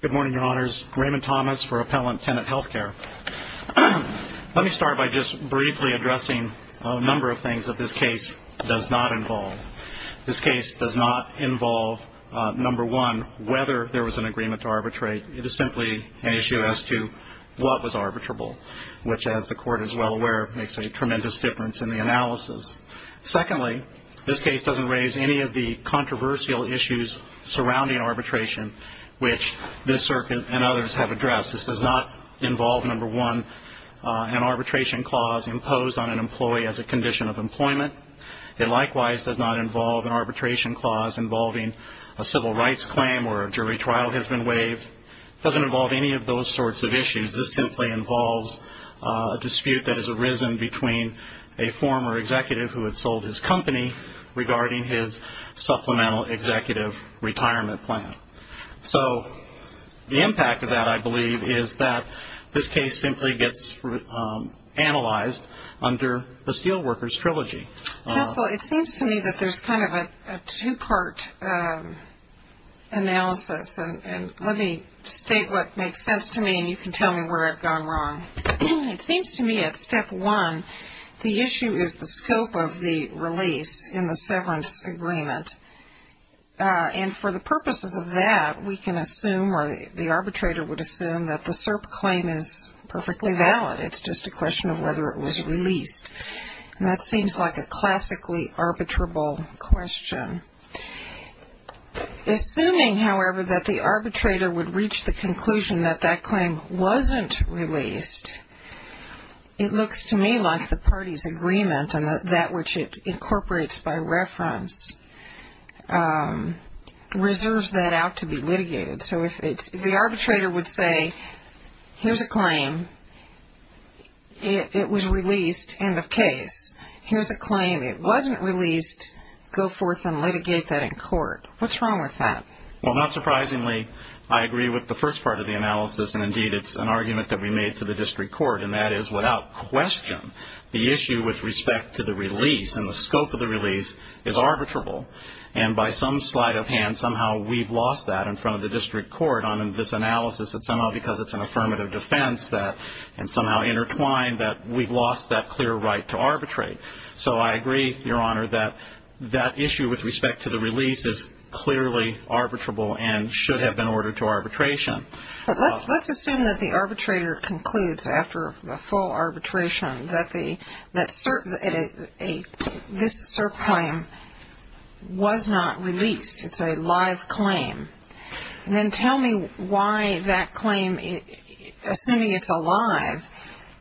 Good morning your honors, Raymond Thomas for Appellant Tenet Healthcare. Let me start by just briefly addressing a number of things that this case does not involve. This case does not involve number one, whether there was an agreement to arbitrate, it is simply an issue as to what was arbitrable. Which as the court is well aware makes a tremendous difference in the analysis. Secondly this case doesn't raise any of the controversial issues surrounding arbitration, which this circuit and others have addressed. This does not involve number one, an arbitration clause imposed on an employee as a condition of employment. It likewise does not involve an arbitration clause involving a civil rights claim or a jury trial has been waived. It doesn't involve any of those sorts of issues. This simply involves a dispute that has arisen between a former executive who had sold his company regarding his supplemental executive retirement plan. So the impact of that I believe is that this case simply gets analyzed under the Steelworkers Trilogy. Counsel, it seems to me that there's kind of a two part analysis and let me state what makes sense to me and you can tell me where I've gone wrong. It seems to me at step one the issue is the scope of the release in the severance agreement. And for the purposes of that we can assume or the arbitrator would assume that the SERP claim is perfectly valid. It's just a question of whether it was released. And that seems like a classically arbitrable question. Assuming, however, that the arbitrator would reach the conclusion that that claim wasn't released, it looks to me like the party's agreement and that which it incorporates by reference reserves that out to be litigated. So if the arbitrator would say, here's a claim, it was released, end of case. Here's a claim, it wasn't released, go forth and litigate that in court. What's wrong with that? Well, not surprisingly, I agree with the first part of the analysis and indeed it's an argument that we made to the district court. And that is without question the issue with respect to the release and the scope of the release is arbitrable. And by some sleight of hand, somehow we've lost that in front of the district court on this analysis. It's somehow because it's an affirmative defense and somehow intertwined that we've lost that clear right to arbitrate. So I agree, Your Honor, that that issue with respect to the release is clearly arbitrable and should have been ordered to arbitration. But let's assume that the arbitrator concludes after the full arbitration that this SERP claim was not released, it's a live claim. Then tell me why that claim, assuming it's alive,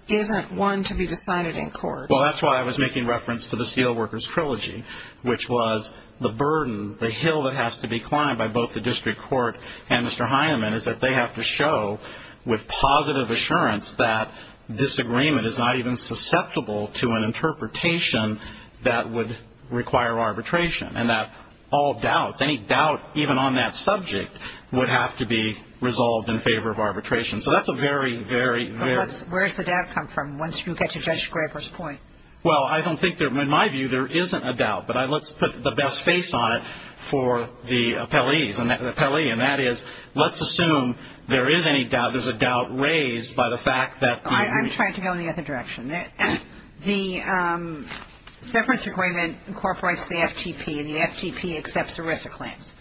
isn't one to be decided in court. Well, that's why I was making reference to the Steelworkers Trilogy, which was the burden, the hill that has to be climbed by both the district court and Mr. Heinemann is that they have to show with positive assurance that this agreement is not even susceptible to an interpretation that would require arbitration and that all doubts, any doubt even on that subject, would have to be resolved in favor of arbitration. So that's a very, very, very — But where does the doubt come from once you get to Judge Graber's point? Well, I don't think there — in my view, there isn't a doubt. But let's put the best face on it for the appellees and the appellee, and that is let's assume there is any doubt, there's a doubt raised by the fact that the — I'm trying to go in the other direction. The severance agreement incorporates the FTP, and the FTP accepts ERISA claims.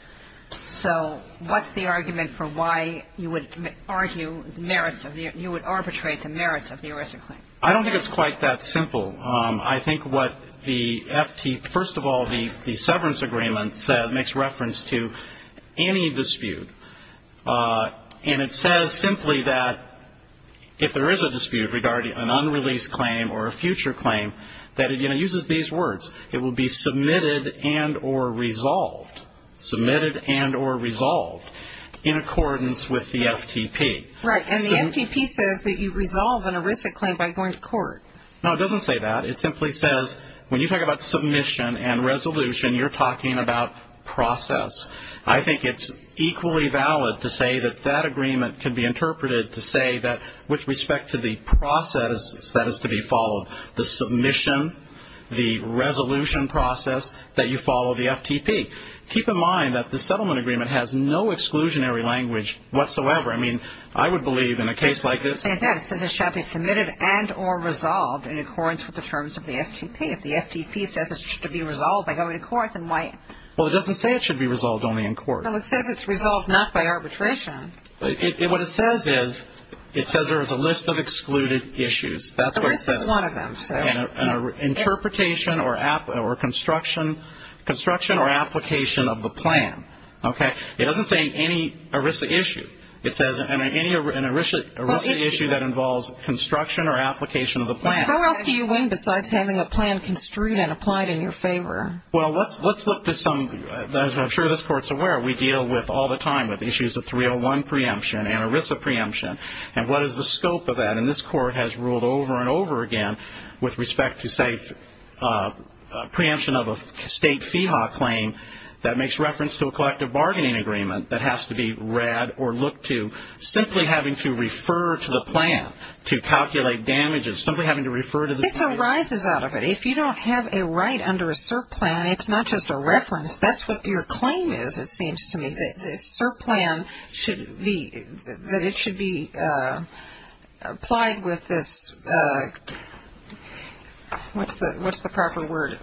So what's the argument for why you would argue the merits of the — you would arbitrate the merits of the ERISA claim? I don't think it's quite that simple. I think what the FT — first of all, the severance agreement makes reference to any dispute. And it says simply that if there is a dispute regarding an unreleased claim or a future claim, that it uses these words. It will be submitted and or resolved, submitted and or resolved in accordance with the FTP. Right. And the FTP says that you resolve an ERISA claim by going to court. No, it doesn't say that. It simply says when you talk about submission and resolution, you're talking about process. I think it's equally valid to say that that agreement can be interpreted to say that with respect to the process that is to be followed, the submission, the resolution process, that you follow the FTP. Keep in mind that the settlement agreement has no exclusionary language whatsoever. I mean, I would believe in a case like this — It says that. It says it shall be submitted and or resolved in accordance with the terms of the FTP. If the FTP says it should be resolved by going to court, then why — Well, it doesn't say it should be resolved only in court. No, it says it's resolved not by arbitration. What it says is, it says there is a list of excluded issues. That's what it says. ERISA is one of them. An interpretation or construction or application of the plan. Okay. It doesn't say any ERISA issue. It says any ERISA issue that involves construction or application of the plan. How else do you win besides having a plan construed and applied in your favor? Well, let's look to some — as I'm sure this Court's aware, we deal with all the time with issues of 301 preemption and ERISA preemption. And what is the scope of that? And this Court has ruled over and over again with respect to, say, preemption of a state FEHA claim that makes reference to a collective bargaining agreement that has to be read or looked to, simply having to refer to the plan to calculate damages, simply having to refer to the plan. This arises out of it. It's not just a reference. That's what your claim is, it seems to me, that this CERP plan should be — that it should be applied with this — what's the proper word?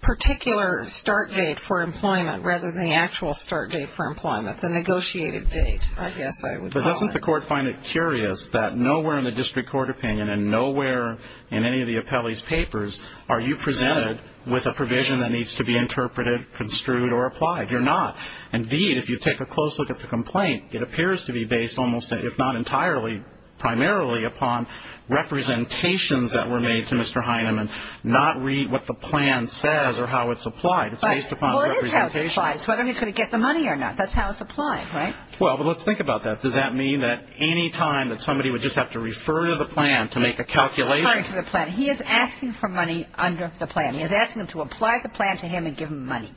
Particular start date for employment rather than the actual start date for employment, the negotiated date, I guess I would call it. But doesn't the Court find it curious that nowhere in the district court opinion and nowhere in any of the appellee's papers are you presented with a provision that needs to be interpreted, construed, or applied? You're not. Indeed, if you take a close look at the complaint, it appears to be based almost, if not entirely, primarily upon representations that were made to Mr. Heineman, not what the plan says or how it's applied. It's based upon representations. Well, it is how it's applied. It's whether he's going to get the money or not. That's how it's applied, right? Well, but let's think about that. Does that mean that any time that somebody would just have to refer to the plan to make a calculation? Refer to the plan. He is asking for money under the plan. He is asking them to apply the plan to him and give him money.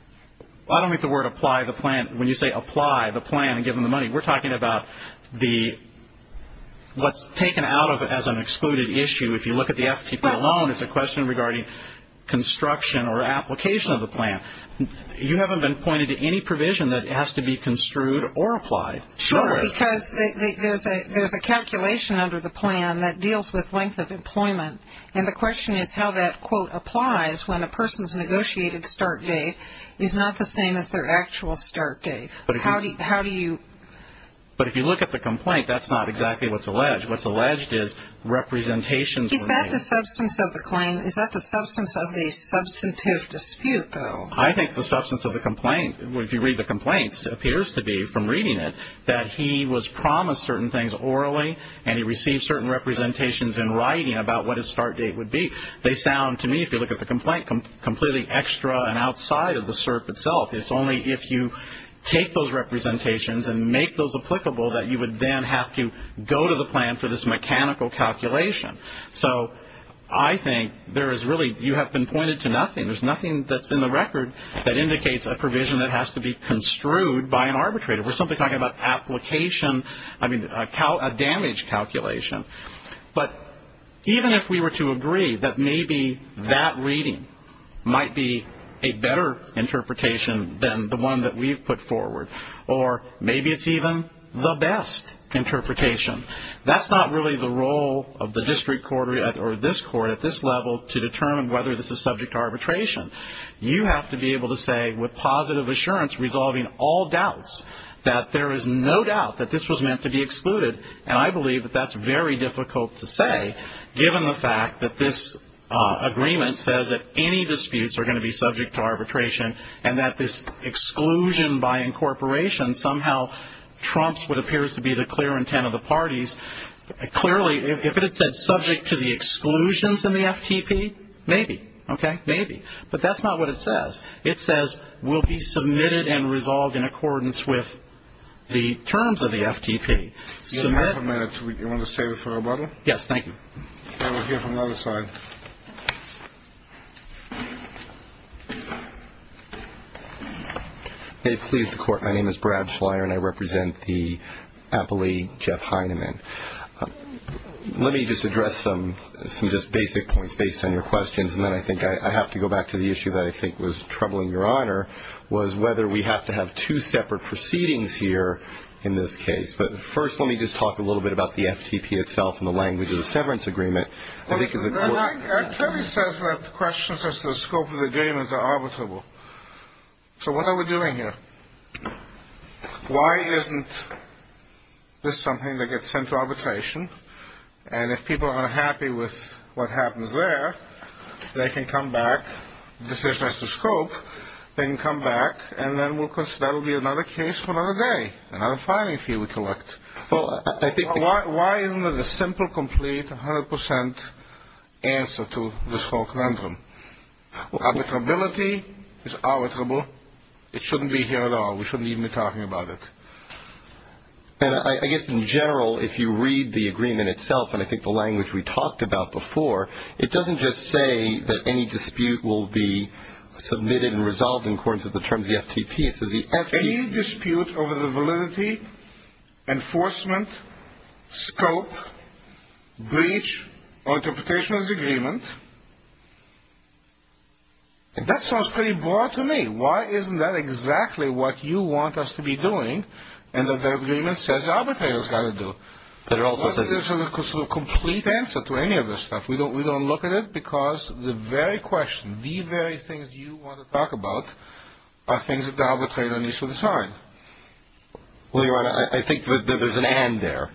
I don't mean the word apply the plan. When you say apply the plan and give him the money, we're talking about what's taken out of it as an excluded issue. If you look at the FTP alone, it's a question regarding construction or application of the plan. You haven't been pointed to any provision that has to be construed or applied. Sure, because there's a calculation under the plan that deals with length of employment, and the question is how that, quote, applies when a person's negotiated start date is not the same as their actual start date. How do you? But if you look at the complaint, that's not exactly what's alleged. What's alleged is representations were made. Is that the substance of the claim? Is that the substance of the substantive dispute, though? I think the substance of the complaint, if you read the complaint, appears to be from reading it that he was promised certain things orally, and he received certain representations in writing about what his start date would be. They sound to me, if you look at the complaint, completely extra and outside of the CERP itself. It's only if you take those representations and make those applicable that you would then have to go to the plan for this mechanical calculation. So I think there is really you have been pointed to nothing. There's nothing that's in the record that indicates a provision that has to be construed by an arbitrator. We're simply talking about application, I mean a damage calculation. But even if we were to agree that maybe that reading might be a better interpretation than the one that we've put forward, or maybe it's even the best interpretation, that's not really the role of the district court or this court at this level to determine whether this is subject to arbitration. You have to be able to say with positive assurance, resolving all doubts, that there is no doubt that this was meant to be excluded. And I believe that that's very difficult to say, given the fact that this agreement says that any disputes are going to be subject to arbitration and that this exclusion by incorporation somehow trumps what appears to be the clear intent of the parties. Clearly, if it had said subject to the exclusions in the FTP, maybe. OK, maybe. But that's not what it says. It says will be submitted and resolved in accordance with the terms of the FTP. You want to stay for a moment? Yes, thank you. And we'll hear from the other side. Please, the court. My name is Brad Schleyer, and I represent the appellee Jeff Heinemann. Let me just address some just basic points based on your questions, and then I think I have to go back to the issue that I think was troubling Your Honor, was whether we have to have two separate proceedings here in this case. But first let me just talk a little bit about the FTP itself and the language of the severance agreement. I think it's important. It clearly says that the questions as to the scope of the agreements are arbitrable. So what are we doing here? Why isn't this something that gets sent to arbitration? And if people are unhappy with what happens there, they can come back. The decision has to scope. They can come back, and then that will be another case for another day, another filing fee we collect. Why isn't it a simple, complete, 100% answer to this whole conundrum? Arbitrability is arbitrable. It shouldn't be here at all. We shouldn't even be talking about it. I guess in general, if you read the agreement itself, and I think the language we talked about before, it doesn't just say that any dispute will be submitted and resolved in accordance with the terms of the FTP. Any dispute over the validity, enforcement, scope, breach, or interpretation of the agreement, that sounds pretty broad to me. Why isn't that exactly what you want us to be doing, and that the agreement says arbitration has got to do? Why isn't this a complete answer to any of this stuff? We don't look at it because the very question, the very things you want to talk about are things that the arbitrator needs to decide. Well, Your Honor, I think that there's an and there,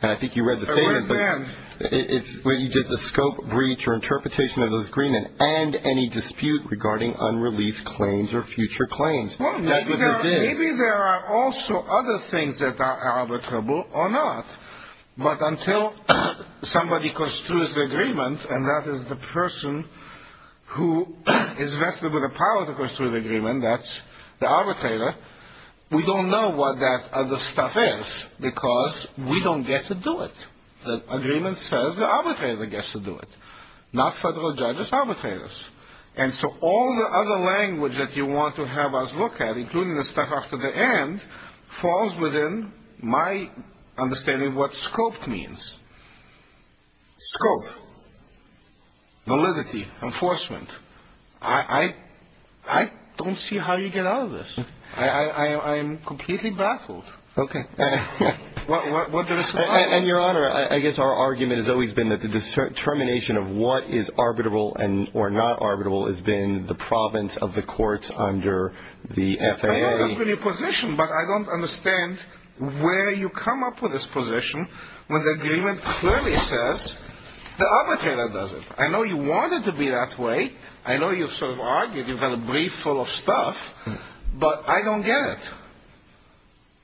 and I think you read the statement. What's the word and? It's whether you did the scope, breach, or interpretation of the agreement, and any dispute regarding unreleased claims or future claims. Well, maybe there are also other things that are arbitrable or not, but until somebody construes the agreement, and that is the person who is vested with the power to construe the agreement, that's the arbitrator, we don't know what that other stuff is because we don't get to do it. The agreement says the arbitrator gets to do it, not federal judges, arbitrators, and so all the other language that you want to have us look at, including the stuff after the end, falls within my understanding of what scoped means. Scope, validity, enforcement. I don't see how you get out of this. I am completely baffled. Okay. What does it say? And, Your Honor, I guess our argument has always been that the determination of what is arbitrable or not arbitrable has been the province of the courts under the FAA. I know that's been your position, but I don't understand where you come up with this position when the agreement clearly says the arbitrator does it. I know you want it to be that way. I know you've sort of argued, you've got a brief full of stuff, but I don't get it.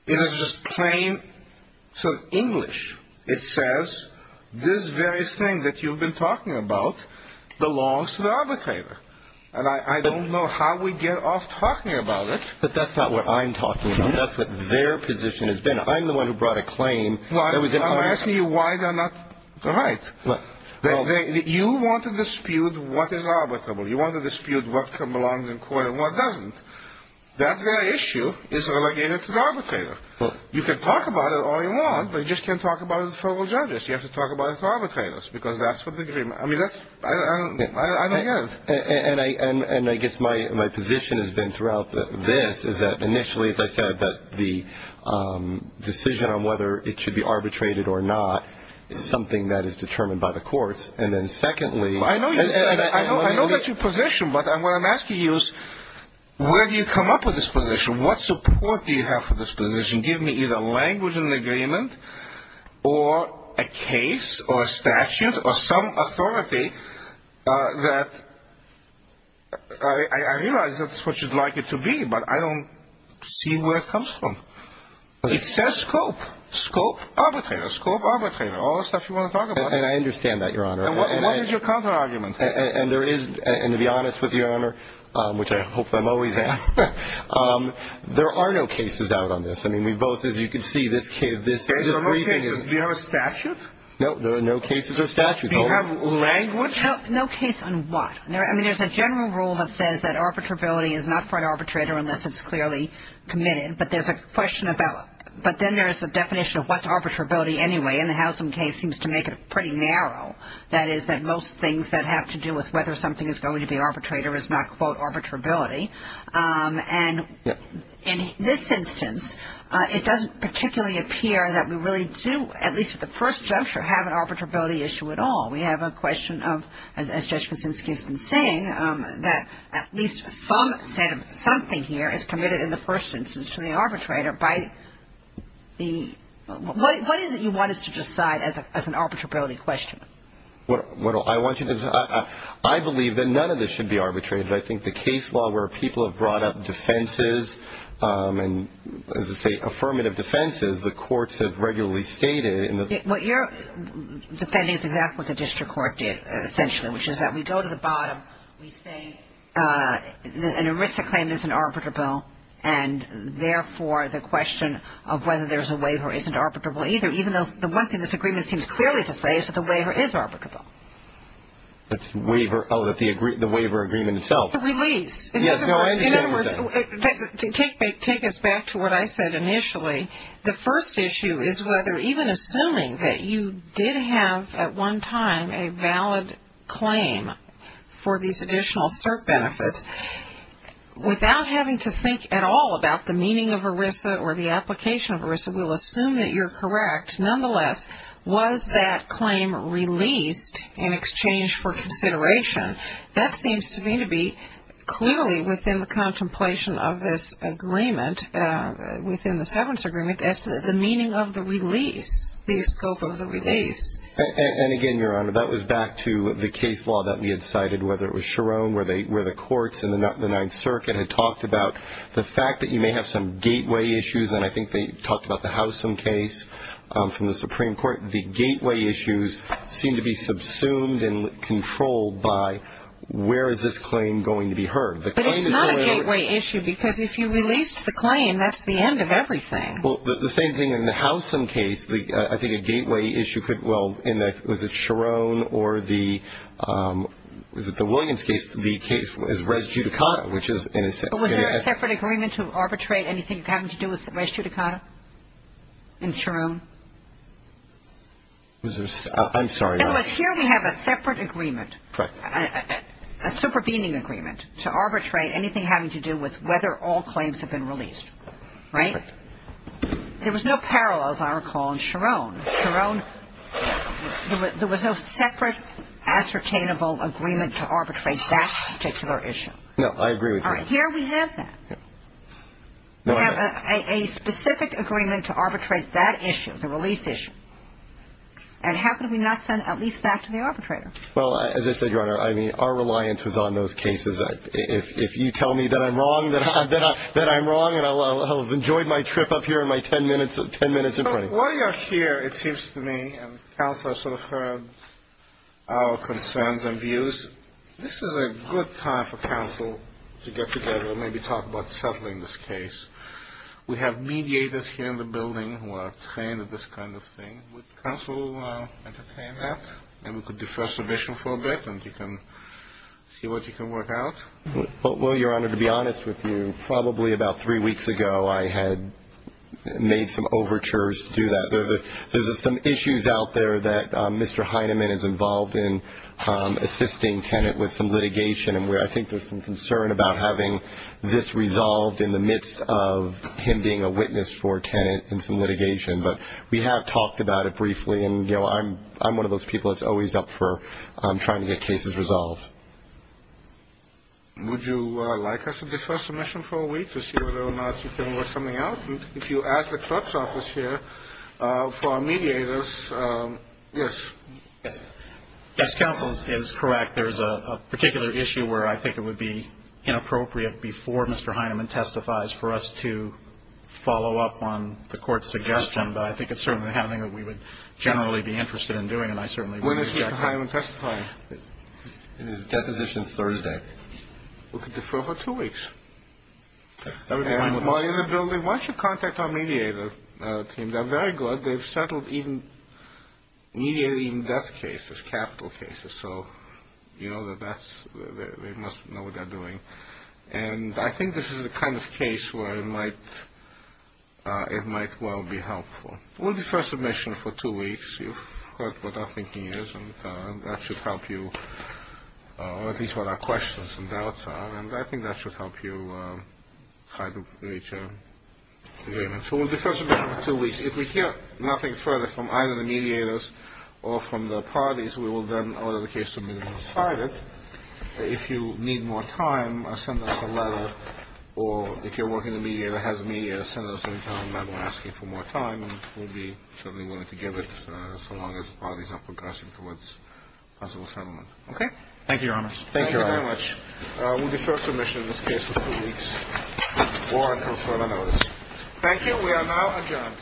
It is just plain sort of English. It says this very thing that you've been talking about belongs to the arbitrator, and I don't know how we get off talking about it. But that's not what I'm talking about. That's what their position has been. I'm the one who brought a claim. I'm asking you why they're not right. You want to dispute what is arbitrable. You want to dispute what belongs in court and what doesn't. That very issue is relegated to the arbitrator. You can talk about it all you want, but you just can't talk about it to the federal judges. You have to talk about it to arbitrators, because that's what the agreement ‑‑ I mean, that's ‑‑ I don't get it. And I guess my position has been throughout this is that initially, as I said, that the decision on whether it should be arbitrated or not is something that is determined by the courts, and then secondly ‑‑ I know that's your position, but what I'm asking you is where do you come up with this position? What support do you have for this position? Give me either language in the agreement or a case or a statute or some authority that ‑‑ I realize that's what you'd like it to be, but I don't see where it comes from. It says scope, scope arbitrator, scope arbitrator, all the stuff you want to talk about. And I understand that, Your Honor. And what is your counterargument? And there is ‑‑ and to be honest with you, Your Honor, which I hope I'm always at, there are no cases out on this. I mean, we both, as you can see, this is a briefing. There are no cases. Do you have a statute? No, there are no cases or statutes. Do you have language? No case on what? I mean, there's a general rule that says that arbitrability is not for an arbitrator unless it's clearly committed, but there's a question about ‑‑ but then there's a definition of what's arbitrability anyway, and the Housam case seems to make it pretty narrow. That is that most things that have to do with whether something is going to be arbitrated is not, quote, arbitrability. And in this instance, it doesn't particularly appear that we really do, at least at the first juncture, have an arbitrability issue at all. We have a question of, as Judge Kuczynski has been saying, that at least some set of something here is committed in the first instance to the arbitrator by the ‑‑ What is it you want us to decide as an arbitrability question? What I want you to ‑‑ I believe that none of this should be arbitrated. I think the case law where people have brought up defenses and, as I say, affirmative defenses, the courts have regularly stated in the ‑‑ What you're defending is exactly what the district court did, essentially, which is that we go to the bottom, we say an ERISA claim isn't arbitrable, and, therefore, the question of whether there's a waiver isn't arbitrable either, even though the one thing this agreement seems clearly to say is that the waiver is arbitrable. The waiver ‑‑ oh, the waiver agreement itself. The release. In other words, take us back to what I said initially. The first issue is whether even assuming that you did have at one time a valid claim for these additional CERT benefits, without having to think at all about the meaning of ERISA or the application of ERISA, we'll assume that you're correct. Nonetheless, was that claim released in exchange for consideration? That seems to me to be clearly within the contemplation of this agreement, within the seventh agreement, the meaning of the release, the scope of the release. And, again, Your Honor, that was back to the case law that we had cited, whether it was Cherone where the courts in the Ninth Circuit had talked about the fact that you may have some gateway issues, and I think they talked about the Howsam case from the Supreme Court. The gateway issues seem to be subsumed and controlled by where is this claim going to be heard. But it's not a gateway issue because if you released the claim, that's the end of everything. Well, the same thing in the Howsam case. I think a gateway issue could, well, in the, was it Cherone or the, was it the Williams case, the case is res judicata, which is in a separate. Was there a separate agreement to arbitrate anything having to do with res judicata in Cherone? I'm sorry. It was here we have a separate agreement. Correct. A supervening agreement to arbitrate anything having to do with whether all claims have been released. Right? There was no parallels, I recall, in Cherone. Cherone, there was no separate ascertainable agreement to arbitrate that particular issue. No, I agree with you. All right. Here we have that. We have a specific agreement to arbitrate that issue, the release issue. And how could we not send at least that to the arbitrator? Well, as I said, Your Honor, I mean, our reliance was on those cases. If you tell me that I'm wrong, that I'm wrong and I'll have enjoyed my trip up here and my ten minutes in printing. While you're here, it seems to me, and counsel has sort of heard our concerns and views, this is a good time for counsel to get together and maybe talk about settling this case. We have mediators here in the building who are trained at this kind of thing. Would counsel entertain that? And we could do first submission for a bit and you can see what you can work out. Well, Your Honor, to be honest with you, probably about three weeks ago I had made some overtures to do that. There's some issues out there that Mr. Heineman is involved in assisting Tenet with some litigation, and I think there's some concern about having this resolved in the midst of him being a witness for Tenet in some litigation. But we have talked about it briefly, and, you know, I'm one of those people that's always up for trying to get cases resolved. Would you like us to do first submission for a week to see whether or not you can work something out? If you ask the clerk's office here for our mediators, yes. Yes, counsel is correct. There's a particular issue where I think it would be inappropriate before Mr. Heineman testifies for us to follow up on the court's suggestion, but I think it's certainly something that we would generally be interested in doing and I certainly would reject that. When is Mr. Heineman testifying? It is deposition Thursday. We could defer for two weeks. And while you're in the building, why don't you contact our mediator team? They're very good. They've settled even mediating death cases, capital cases, so you know that they must know what they're doing. And I think this is the kind of case where it might well be helpful. We'll defer submission for two weeks. You've heard what our thinking is, and that should help you, or at least what our questions and doubts are, and I think that should help you try to reach a agreement. So we'll defer submission for two weeks. If we hear nothing further from either the mediators or from the parties, we will then order the case to be decided. If you need more time, send us a letter, or if you're working with a mediator that has a mediator, send us an internal letter asking for more time, and we'll be certainly willing to give it so long as the parties are progressing towards possible settlement. Okay. Thank you, Your Honor. Thank you very much. We'll defer submission in this case for two weeks or until further notice. Thank you. We are now adjourned.